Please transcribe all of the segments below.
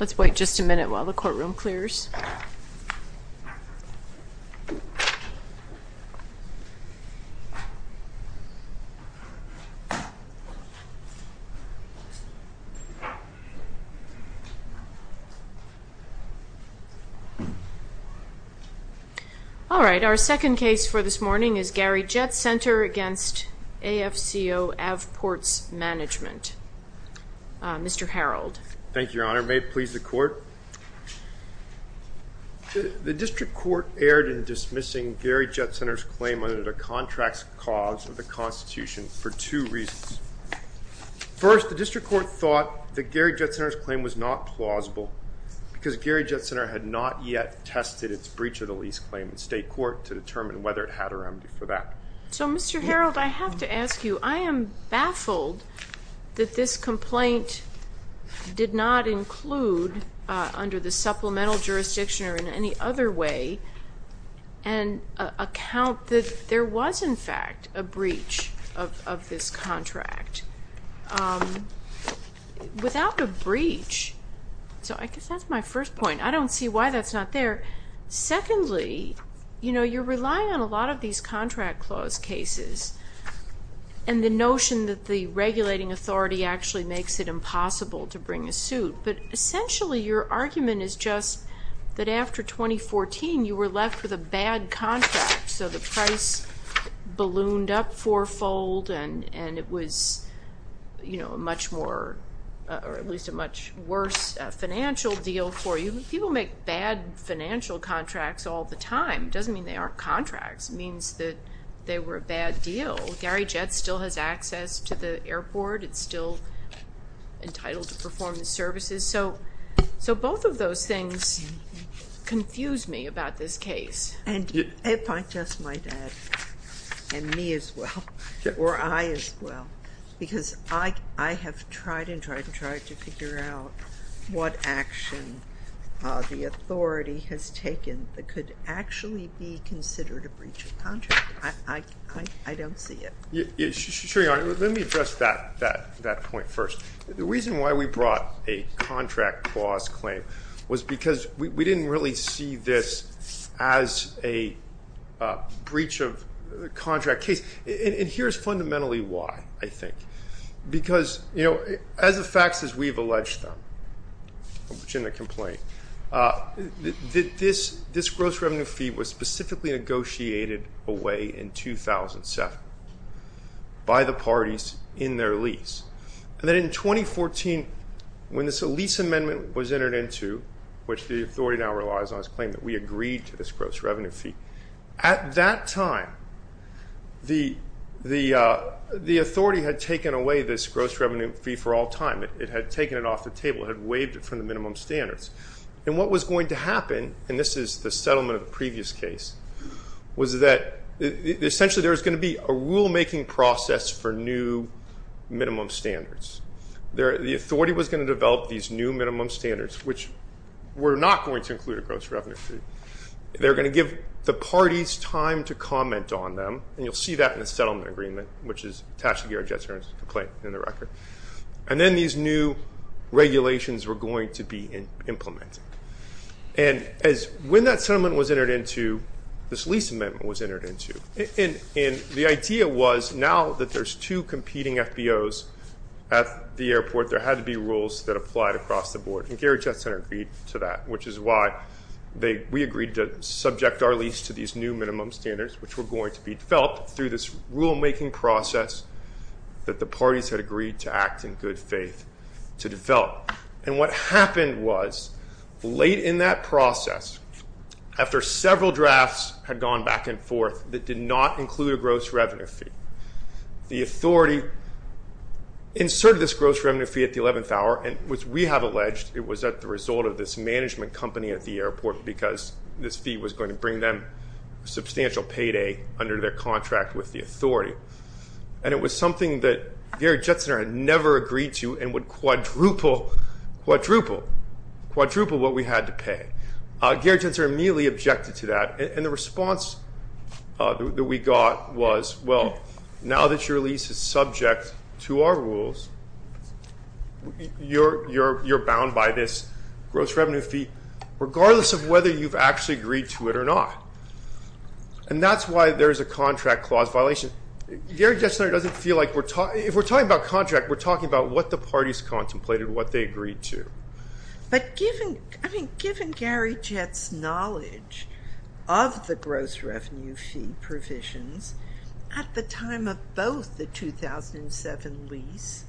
Let's wait just a minute while the courtroom clears. All right, our second case for this morning is Gary Jet Center v. AFCO AvPORTS Management. Mr. Harreld. Thank you, Your Honor. May it please the Court? The district court erred in dismissing Gary Jet Center's claim under the contracts clause of the Constitution for two reasons. First, the district court thought that Gary Jet Center's claim was not plausible because Gary Jet Center had not yet tested its breach of the lease claim in state court to determine whether it had a remedy for that. So, Mr. Harreld, I have to ask you. I am baffled that this complaint did not include, under the supplemental jurisdiction or in any other way, an account that there was, in fact, a breach of this contract. Without a breach, so I guess that's my first point. I don't see why that's not there. Secondly, you're relying on a lot of these contract clause cases and the notion that the regulating authority actually makes it impossible to bring a suit. But essentially, your argument is just that after 2014, you were left with a bad contract, so the price ballooned up fourfold and it was a much worse financial deal for you. People make bad financial contracts all the time. It doesn't mean they aren't contracts. It means that they were a bad deal. Gary Jet still has access to the airport. It's still entitled to perform the services. So both of those things confuse me about this case. And if I just might add, and me as well, or I as well, because I have tried and tried and tried to figure out what action the authority has taken that could actually be considered a breach of contract. I don't see it. Sure, Your Honor. Let me address that point first. The reason why we brought a contract clause claim was because we didn't really see this as a breach of contract case. And here's fundamentally why, I think. Because, you know, as the facts as we've alleged them, which isn't a complaint, this gross revenue fee was specifically negotiated away in 2007 by the parties in their lease. And then in 2014, when this lease amendment was entered into, which the authority now relies on as a claim that we agreed to this gross revenue fee, at that time the authority had taken away this gross revenue fee for all time. It had taken it off the table. It had waived it from the minimum standards. And what was going to happen, and this is the settlement of the previous case, was that essentially there was going to be a rulemaking process for new minimum standards. The authority was going to develop these new minimum standards, which were not going to include a gross revenue fee. They were going to give the parties time to comment on them, and you'll see that in the settlement agreement, which is Tashkirah Jetson's complaint in the record. And then these new regulations were going to be implemented. And when that settlement was entered into, this lease amendment was entered into, and the idea was now that there's two competing FBOs at the airport, there had to be rules that applied across the board, and Gary Jetson agreed to that, which is why we agreed to subject our lease to these new minimum standards, which were going to be developed through this rulemaking process that the parties had agreed to act in good faith to develop. And what happened was, late in that process, after several drafts had gone back and forth that did not include a gross revenue fee, the authority inserted this gross revenue fee at the 11th hour, and which we have alleged it was at the result of this management company at the airport because this fee was going to bring them substantial payday under their contract with the authority. And it was something that Gary Jetson had never agreed to and would quadruple what we had to pay. Gary Jetson immediately objected to that, and the response that we got was, well, now that your lease is subject to our rules, you're bound by this gross revenue fee regardless of whether you've actually agreed to it or not. And that's why there's a contract clause violation. Gary Jetson doesn't feel like we're talking, if we're talking about contract, we're talking about what the parties contemplated, what they agreed to. But given, I mean, given Gary Jetson's knowledge of the gross revenue fee provisions at the time of both the 2007 lease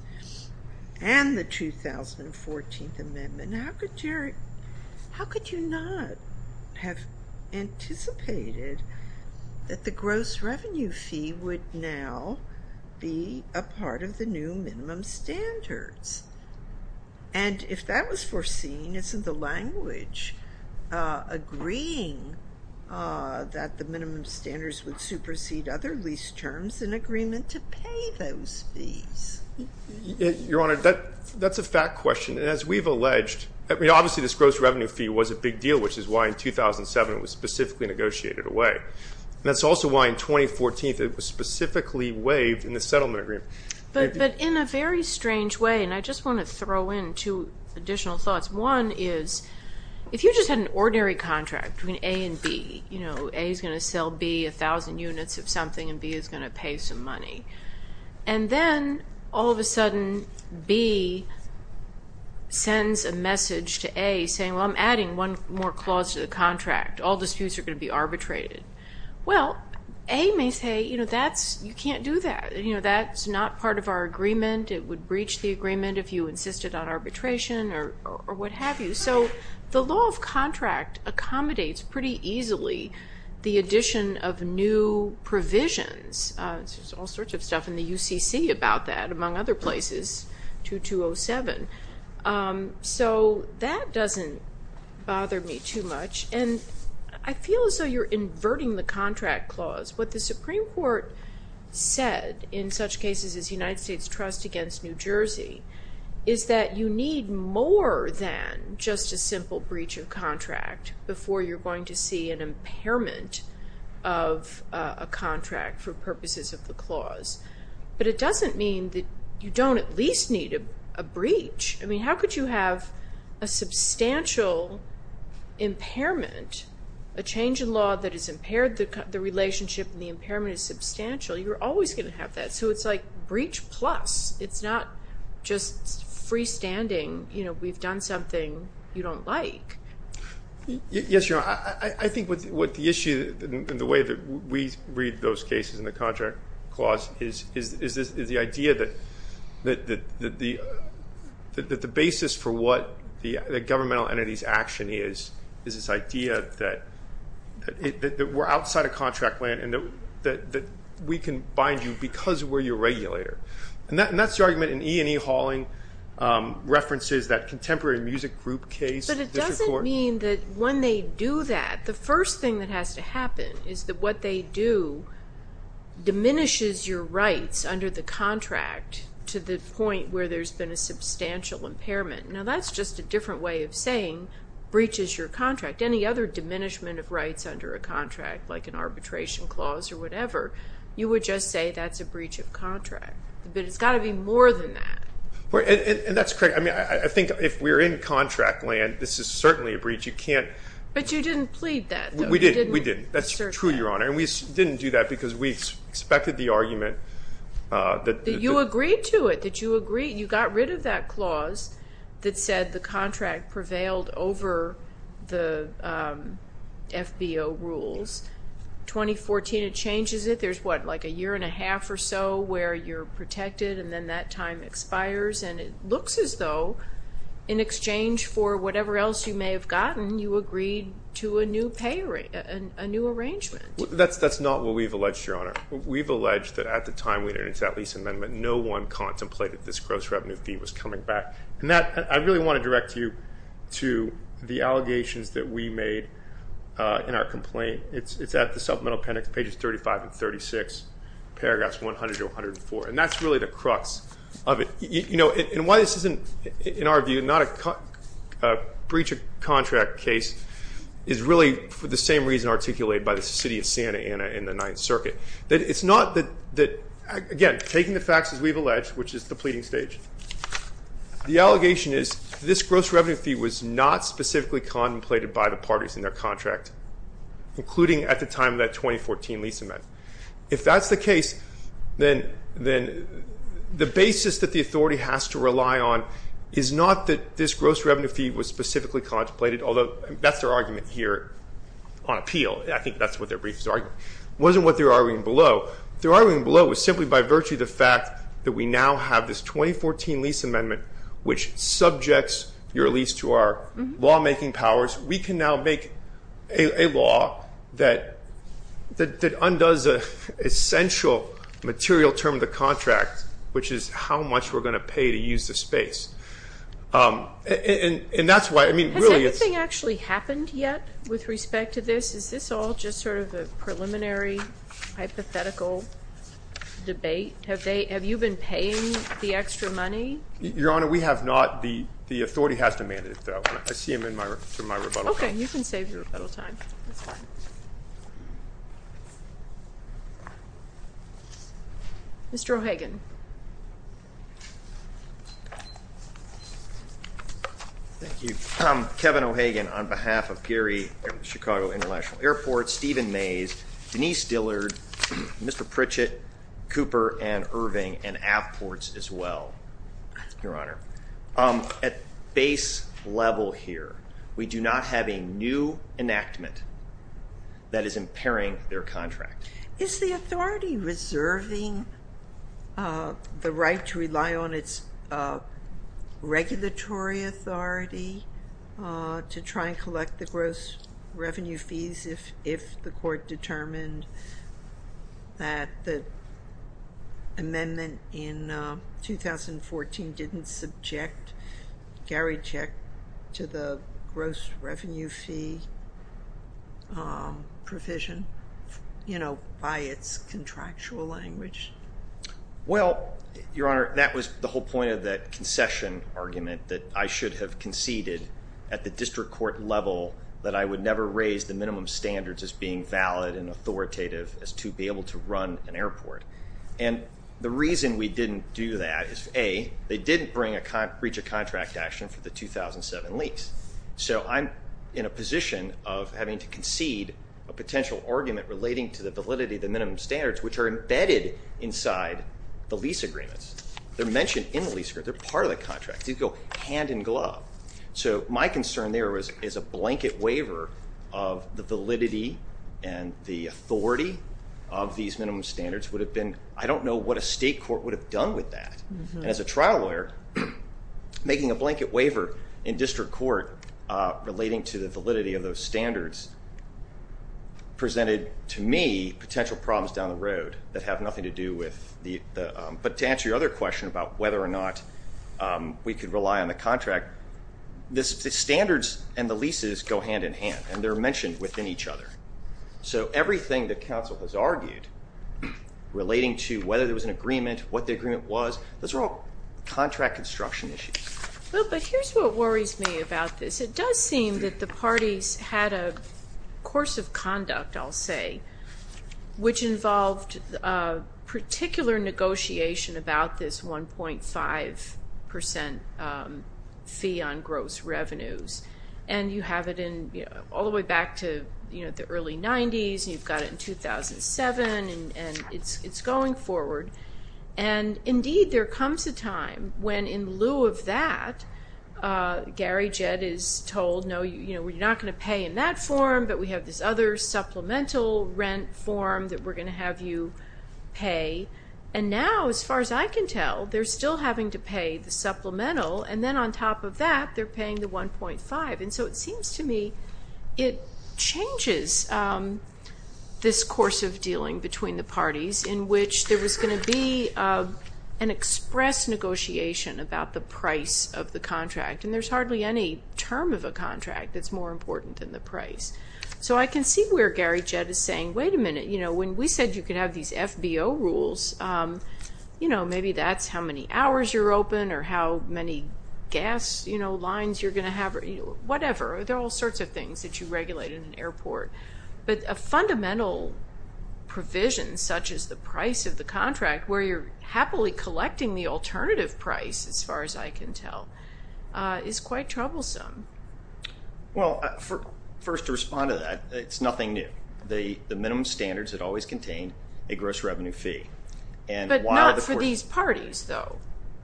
and the 2014 amendment, how could you not have anticipated that the gross revenue fee would now be a part of the new minimum standards? And if that was foreseen, isn't the language agreeing that the minimum standards would supersede other lease terms in agreement to pay those fees? Your Honor, that's a fact question. And as we've alleged, I mean, obviously this gross revenue fee was a big deal, which is why in 2007 it was specifically negotiated away. And that's also why in 2014 it was specifically waived in the settlement agreement. But in a very strange way, and I just want to throw in two additional thoughts. One is, if you just had an ordinary contract between A and B, you know, A is going to sell B 1,000 units of something and B is going to pay some money. And then all of a sudden B sends a message to A saying, well, I'm adding one more clause to the contract. All disputes are going to be arbitrated. Well, A may say, you know, that's, you can't do that. You know, that's not part of our agreement. It would breach the agreement if you insisted on arbitration or what have you. So the law of contract accommodates pretty easily the addition of new provisions. There's all sorts of stuff in the UCC about that, among other places, 2207. So that doesn't bother me too much. And I feel as though you're inverting the contract clause. What the Supreme Court said in such cases as United States Trust against New Jersey is that you need more than just a simple breach of contract before you're going to see an impairment of a contract for purposes of the clause. But it doesn't mean that you don't at least need a breach. I mean, how could you have a substantial impairment, a change in law that has impaired the relationship and the impairment is substantial? You're always going to have that. So it's like breach plus. It's not just freestanding, you know, we've done something you don't like. Yes, Your Honor. I think what the issue and the way that we read those cases in the contract clause is the idea that the basis for what the governmental entity's action is, is this idea that we're outside of contract land and that we can bind you because we're your regulator. And that's the argument in E. and E. Hauling references, that contemporary music group case. But it doesn't mean that when they do that, the first thing that has to happen is that what they do diminishes your rights under the contract to the point where there's been a substantial impairment. Now that's just a different way of saying breaches your contract. Any other diminishment of rights under a contract, like an arbitration clause or whatever, you would just say that's a breach of contract. But it's got to be more than that. And that's correct. I mean, I think if we're in contract land, this is certainly a breach. But you didn't plead that, though. We didn't. That's true, Your Honor. And we didn't do that because we expected the argument. That you agreed to it, that you got rid of that clause that said the contract prevailed over the FBO rules. 2014, it changes it. There's, what, like a year and a half or so where you're protected and then that time expires. And it looks as though in exchange for whatever else you may have gotten, you agreed to a new arrangement. That's not what we've alleged, Your Honor. We've alleged that at the time we entered into that lease amendment, no one contemplated this gross revenue fee was coming back. And I really want to direct you to the allegations that we made in our complaint. It's at the supplemental appendix, pages 35 and 36, paragraphs 100 to 104. And that's really the crux of it. You know, and why this isn't, in our view, not a breach of contract case is really for the same reason articulated by the city of Santa Ana in the Ninth Circuit. It's not that, again, taking the facts as we've alleged, which is the pleading stage, the allegation is this gross revenue fee was not specifically contemplated by the parties in their contract, including at the time of that 2014 lease amendment. If that's the case, then the basis that the authority has to rely on is not that this gross revenue fee was specifically contemplated, although that's their argument here on appeal. I think that's what their brief is arguing. It wasn't what they were arguing below. What they were arguing below was simply by virtue of the fact that we now have this 2014 lease amendment, which subjects your lease to our lawmaking powers. We can now make a law that undoes an essential material term of the contract, which is how much we're going to pay to use the space. And that's why, I mean, really it's... Has everything actually happened yet with respect to this? Is this all just sort of a preliminary hypothetical debate? Have you been paying the extra money? Your Honor, we have not. The authority has demanded it, though. I see him in my rebuttal time. Okay, you can save your rebuttal time. Mr. O'Hagan. Thank you. Kevin O'Hagan on behalf of Gary Chicago International Airport, Stephen Mays, Denise Dillard, Mr. Pritchett, Cooper, and Irving, and Avports as well, Your Honor. At base level here, we do not have a new enactment that is impairing their contract. Is the authority reserving the right to rely on its regulatory authority to try and collect the gross revenue fees if the court determined that the amendment in 2014 didn't subject Garycheck to the gross revenue fee provision, you know, by its contractual language? Well, Your Honor, that was the whole point of that concession argument that I should have conceded at the district court level that I would never raise the minimum standards as being valid and authoritative as to be able to run an airport. And the reason we didn't do that is, A, they didn't reach a contract action for the 2007 lease, so I'm in a position of having to concede a potential argument relating to the validity of the minimum standards, which are embedded inside the lease agreements. They're mentioned in the lease agreement. They're part of the contract. These go hand in glove. So my concern there is a blanket waiver of the validity and the authority of these minimum standards would have been, I don't know what a state court would have done with that. And as a trial lawyer, making a blanket waiver in district court relating to the validity of those standards presented to me potential problems down the road that have nothing to do with the, but to answer your other question about whether or not we could rely on the contract, the standards and the leases go hand in hand and they're mentioned within each other. So everything the council has argued relating to whether there was an agreement, what the agreement was, those are all contract construction issues. Well, but here's what worries me about this. It does seem that the parties had a course of conduct, I'll say, which involved particular negotiation about this 1.5% fee on gross revenues. And you have it all the way back to the early 90s, and you've got it in 2007, and it's going forward. And, indeed, there comes a time when, in lieu of that, Gary Jett is told, no, we're not going to pay in that form, but we have this other supplemental rent form that we're going to have you pay. And now, as far as I can tell, they're still having to pay the supplemental, and then on top of that they're paying the 1.5%. And so it seems to me it changes this course of dealing between the parties in which there was going to be an express negotiation about the price of the contract, and there's hardly any term of a contract that's more important than the price. So I can see where Gary Jett is saying, wait a minute, when we said you could have these FBO rules, maybe that's how many hours you're open or how many gas lines you're going to have or whatever. There are all sorts of things that you regulate in an airport. But a fundamental provision, such as the price of the contract, where you're happily collecting the alternative price, as far as I can tell, is quite troublesome. Well, first to respond to that, it's nothing new. The minimum standards had always contained a gross revenue fee. But not for these parties, though.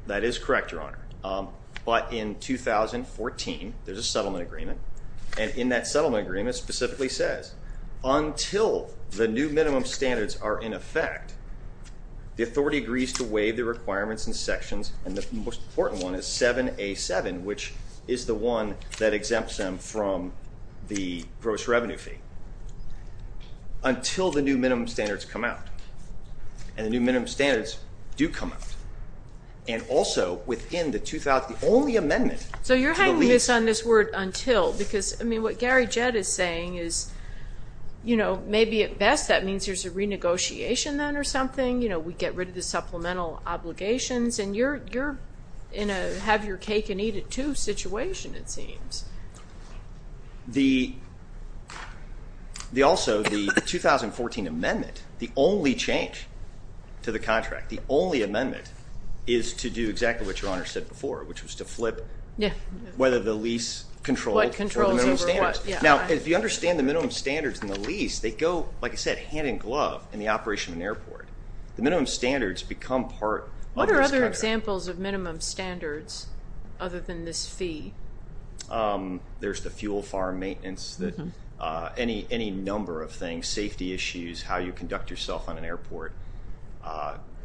That is correct, Your Honor. But in 2014, there's a settlement agreement, and in that settlement agreement specifically says until the new minimum standards are in effect, the authority agrees to waive the requirements in sections, and the most important one is 7A7, which is the one that exempts them from the gross revenue fee, until the new minimum standards come out. And the new minimum standards do come out. And also within the only amendment to the lease. I'm going to focus on this word until because, I mean, what Gary Jett is saying is, you know, maybe at best that means there's a renegotiation then or something. You know, we get rid of the supplemental obligations, and you're in a have-your-cake-and-eat-it-too situation, it seems. Also, the 2014 amendment, the only change to the contract, the only amendment is to do exactly what Your Honor said before, which was to flip whether the lease controlled or the minimum standards. Now, if you understand the minimum standards in the lease, they go, like I said, hand-in-glove in the operation of an airport. The minimum standards become part of this contract. What are other examples of minimum standards other than this fee? There's the fuel farm maintenance, any number of things, safety issues, how you conduct yourself on an airport.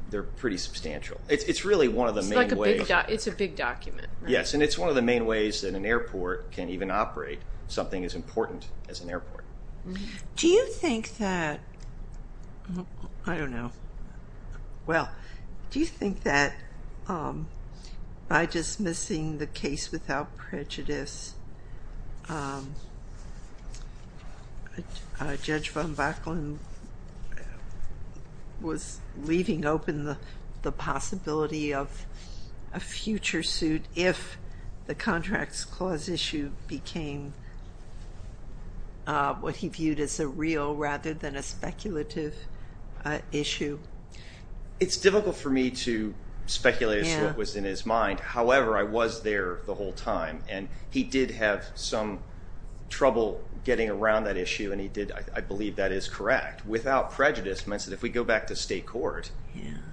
They're pretty substantial. It's really one of the main ways. It's a big document. Yes, and it's one of the main ways that an airport can even operate something as important as an airport. Do you think that, I don't know, well, do you think that by dismissing the case without prejudice, Judge von Backlund was leaving open the possibility of a future suit if the contracts clause issue became what he viewed as a real rather than a speculative issue? It's difficult for me to speculate as to what was in his mind. However, I was there the whole time, and he did have some trouble getting around that issue, and I believe that is correct. Without prejudice means that if we go back to state court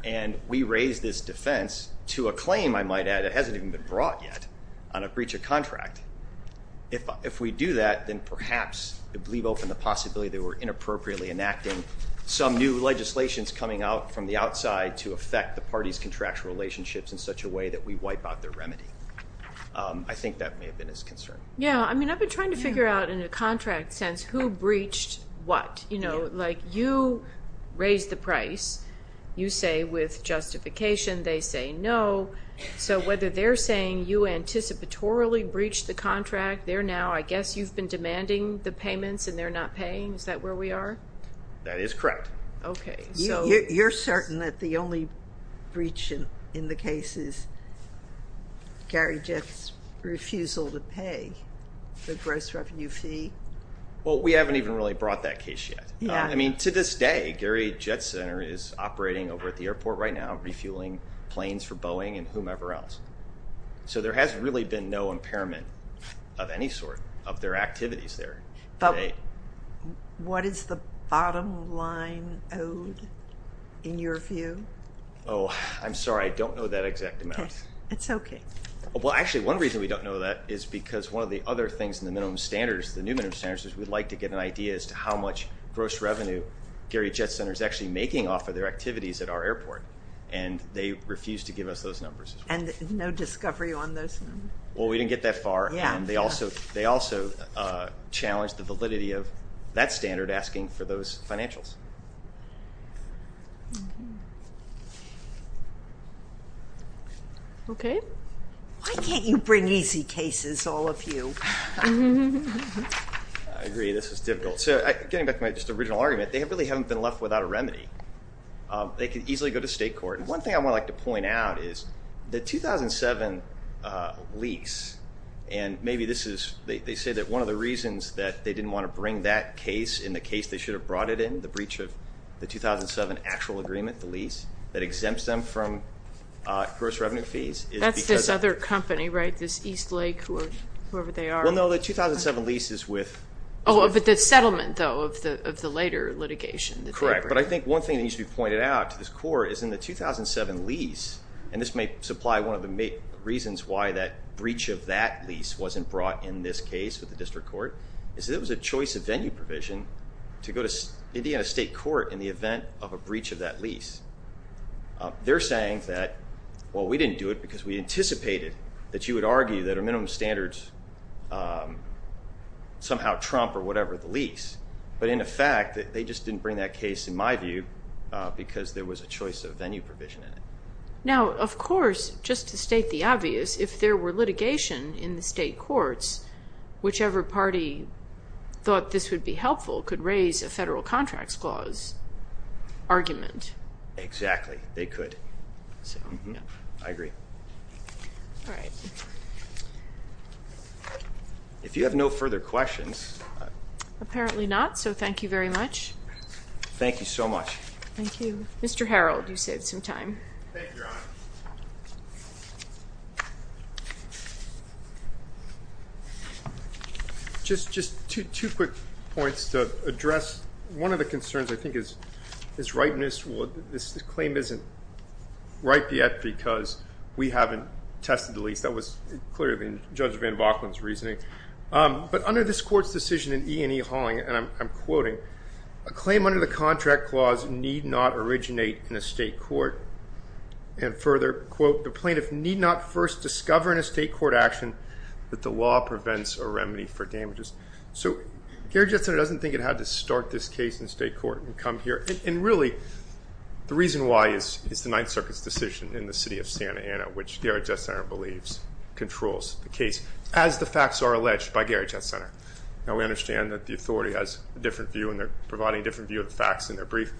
and we raise this defense to a claim, I might add, that hasn't even been brought yet on a breach of contract, if we do that, then perhaps it would leave open the possibility that we're inappropriately enacting some new legislations coming out from the outside to affect the parties' contractual relationships in such a way that we wipe out their remedy. I think that may have been his concern. I've been trying to figure out in a contract sense who breached what. You raised the price. You say with justification. They say no. So whether they're saying you anticipatorily breached the contract, they're now, I guess you've been demanding the payments and they're not paying. Is that where we are? That is correct. You're certain that the only breach in the case is Gary Jett's refusal to pay the gross revenue fee? Well, we haven't even really brought that case yet. To this day, Gary Jett Center is operating over at the airport right now, refueling planes for Boeing and whomever else. So there has really been no impairment of any sort of their activities there. But what is the bottom line owed in your view? Oh, I'm sorry. I don't know that exact amount. It's okay. Well, actually, one reason we don't know that is because one of the other things in the minimum standards, the new minimum standards, is we'd like to get an idea as to how much gross revenue Gary Jett Center is actually making off of their activities at our airport. And they refuse to give us those numbers. And no discovery on those numbers? Well, we didn't get that far. They also challenged the validity of that standard asking for those financials. Okay. Why can't you bring easy cases, all of you? I agree. This is difficult. So getting back to my original argument, they really haven't been left without a remedy. They could easily go to state court. One thing I would like to point out is the 2007 lease, and maybe this is they say that one of the reasons that they didn't want to bring that case in the case they should have brought it in, the breach of the 2007 actual agreement, the lease, that exempts them from gross revenue fees. That's this other company, right, this Eastlake, whoever they are. Well, no, the 2007 lease is with. Oh, but the settlement, though, of the later litigation. Correct. But I think one thing that needs to be pointed out to this court is in the 2007 lease, and this may supply one of the reasons why that breach of that lease wasn't brought in this case with the district court, is that it was a choice of venue provision to go to Indiana state court in the event of a breach of that lease. They're saying that, well, we didn't do it because we anticipated that you would argue that our minimum standards somehow trump or whatever the lease. But in effect, they just didn't bring that case, in my view, because there was a choice of venue provision in it. Now, of course, just to state the obvious, if there were litigation in the state courts, whichever party thought this would be helpful could raise a federal contracts clause argument. Exactly. They could. I agree. All right. If you have no further questions. Apparently not. So thank you very much. Thank you so much. Thank you. Mr. Harold, you saved some time. Thank you, Your Honor. Just two quick points to address. One of the concerns, I think, is ripeness. This claim isn't ripe yet because we haven't tested the lease. That was clearly in Judge Van Valken's reasoning. But under this court's decision in E&E Hauling, and I'm quoting, a claim under the contract clause need not originate in a state court. And further, quote, the plaintiff need not first discover in a state court action that the law prevents a remedy for damages. So Garrett Jett Center doesn't think it had to start this case in the state court and come here. And really, the reason why is the Ninth Circuit's decision in the city of Santa Ana, which Garrett Jett Center believes controls the case. As the facts are alleged by Garrett Jett Center. Now we understand that the authority has a different view, and they're providing a different view of the facts in their brief.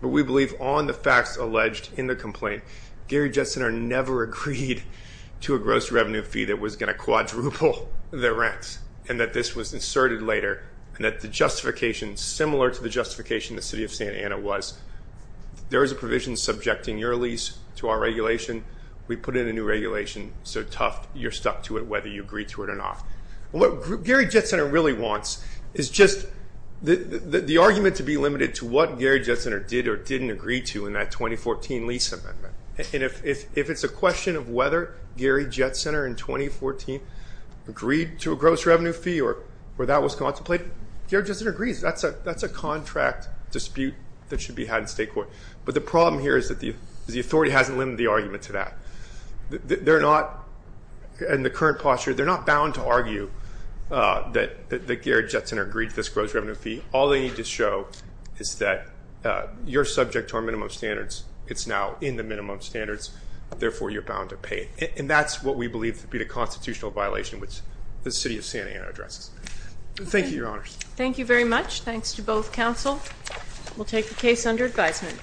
But we believe on the facts alleged in the complaint, Garrett Jett Center never agreed to a gross revenue fee that was going to quadruple their rents, and that this was inserted later. And that the justification, similar to the justification the city of Santa Ana was, there is a provision subjecting your lease to our regulation. We put in a new regulation. So tough, you're stuck to it whether you agree to it or not. What Garrett Jett Center really wants is just the argument to be limited to what Garrett Jett Center did or didn't agree to in that 2014 lease amendment. And if it's a question of whether Garrett Jett Center in 2014 agreed to a gross revenue fee or that was contemplated, Garrett Jett Center agrees. That's a contract dispute that should be had in state court. But the problem here is that the authority hasn't limited the argument to that. They're not, in the current posture, they're not bound to argue that Garrett Jett Center agreed to this gross revenue fee. All they need to show is that you're subject to our minimum standards. It's now in the minimum standards. Therefore, you're bound to pay. And that's what we believe to be the constitutional violation, which the city of Santa Ana addresses. Thank you, Your Honors. Thank you very much. Thanks to both counsel. We'll take the case under advisement.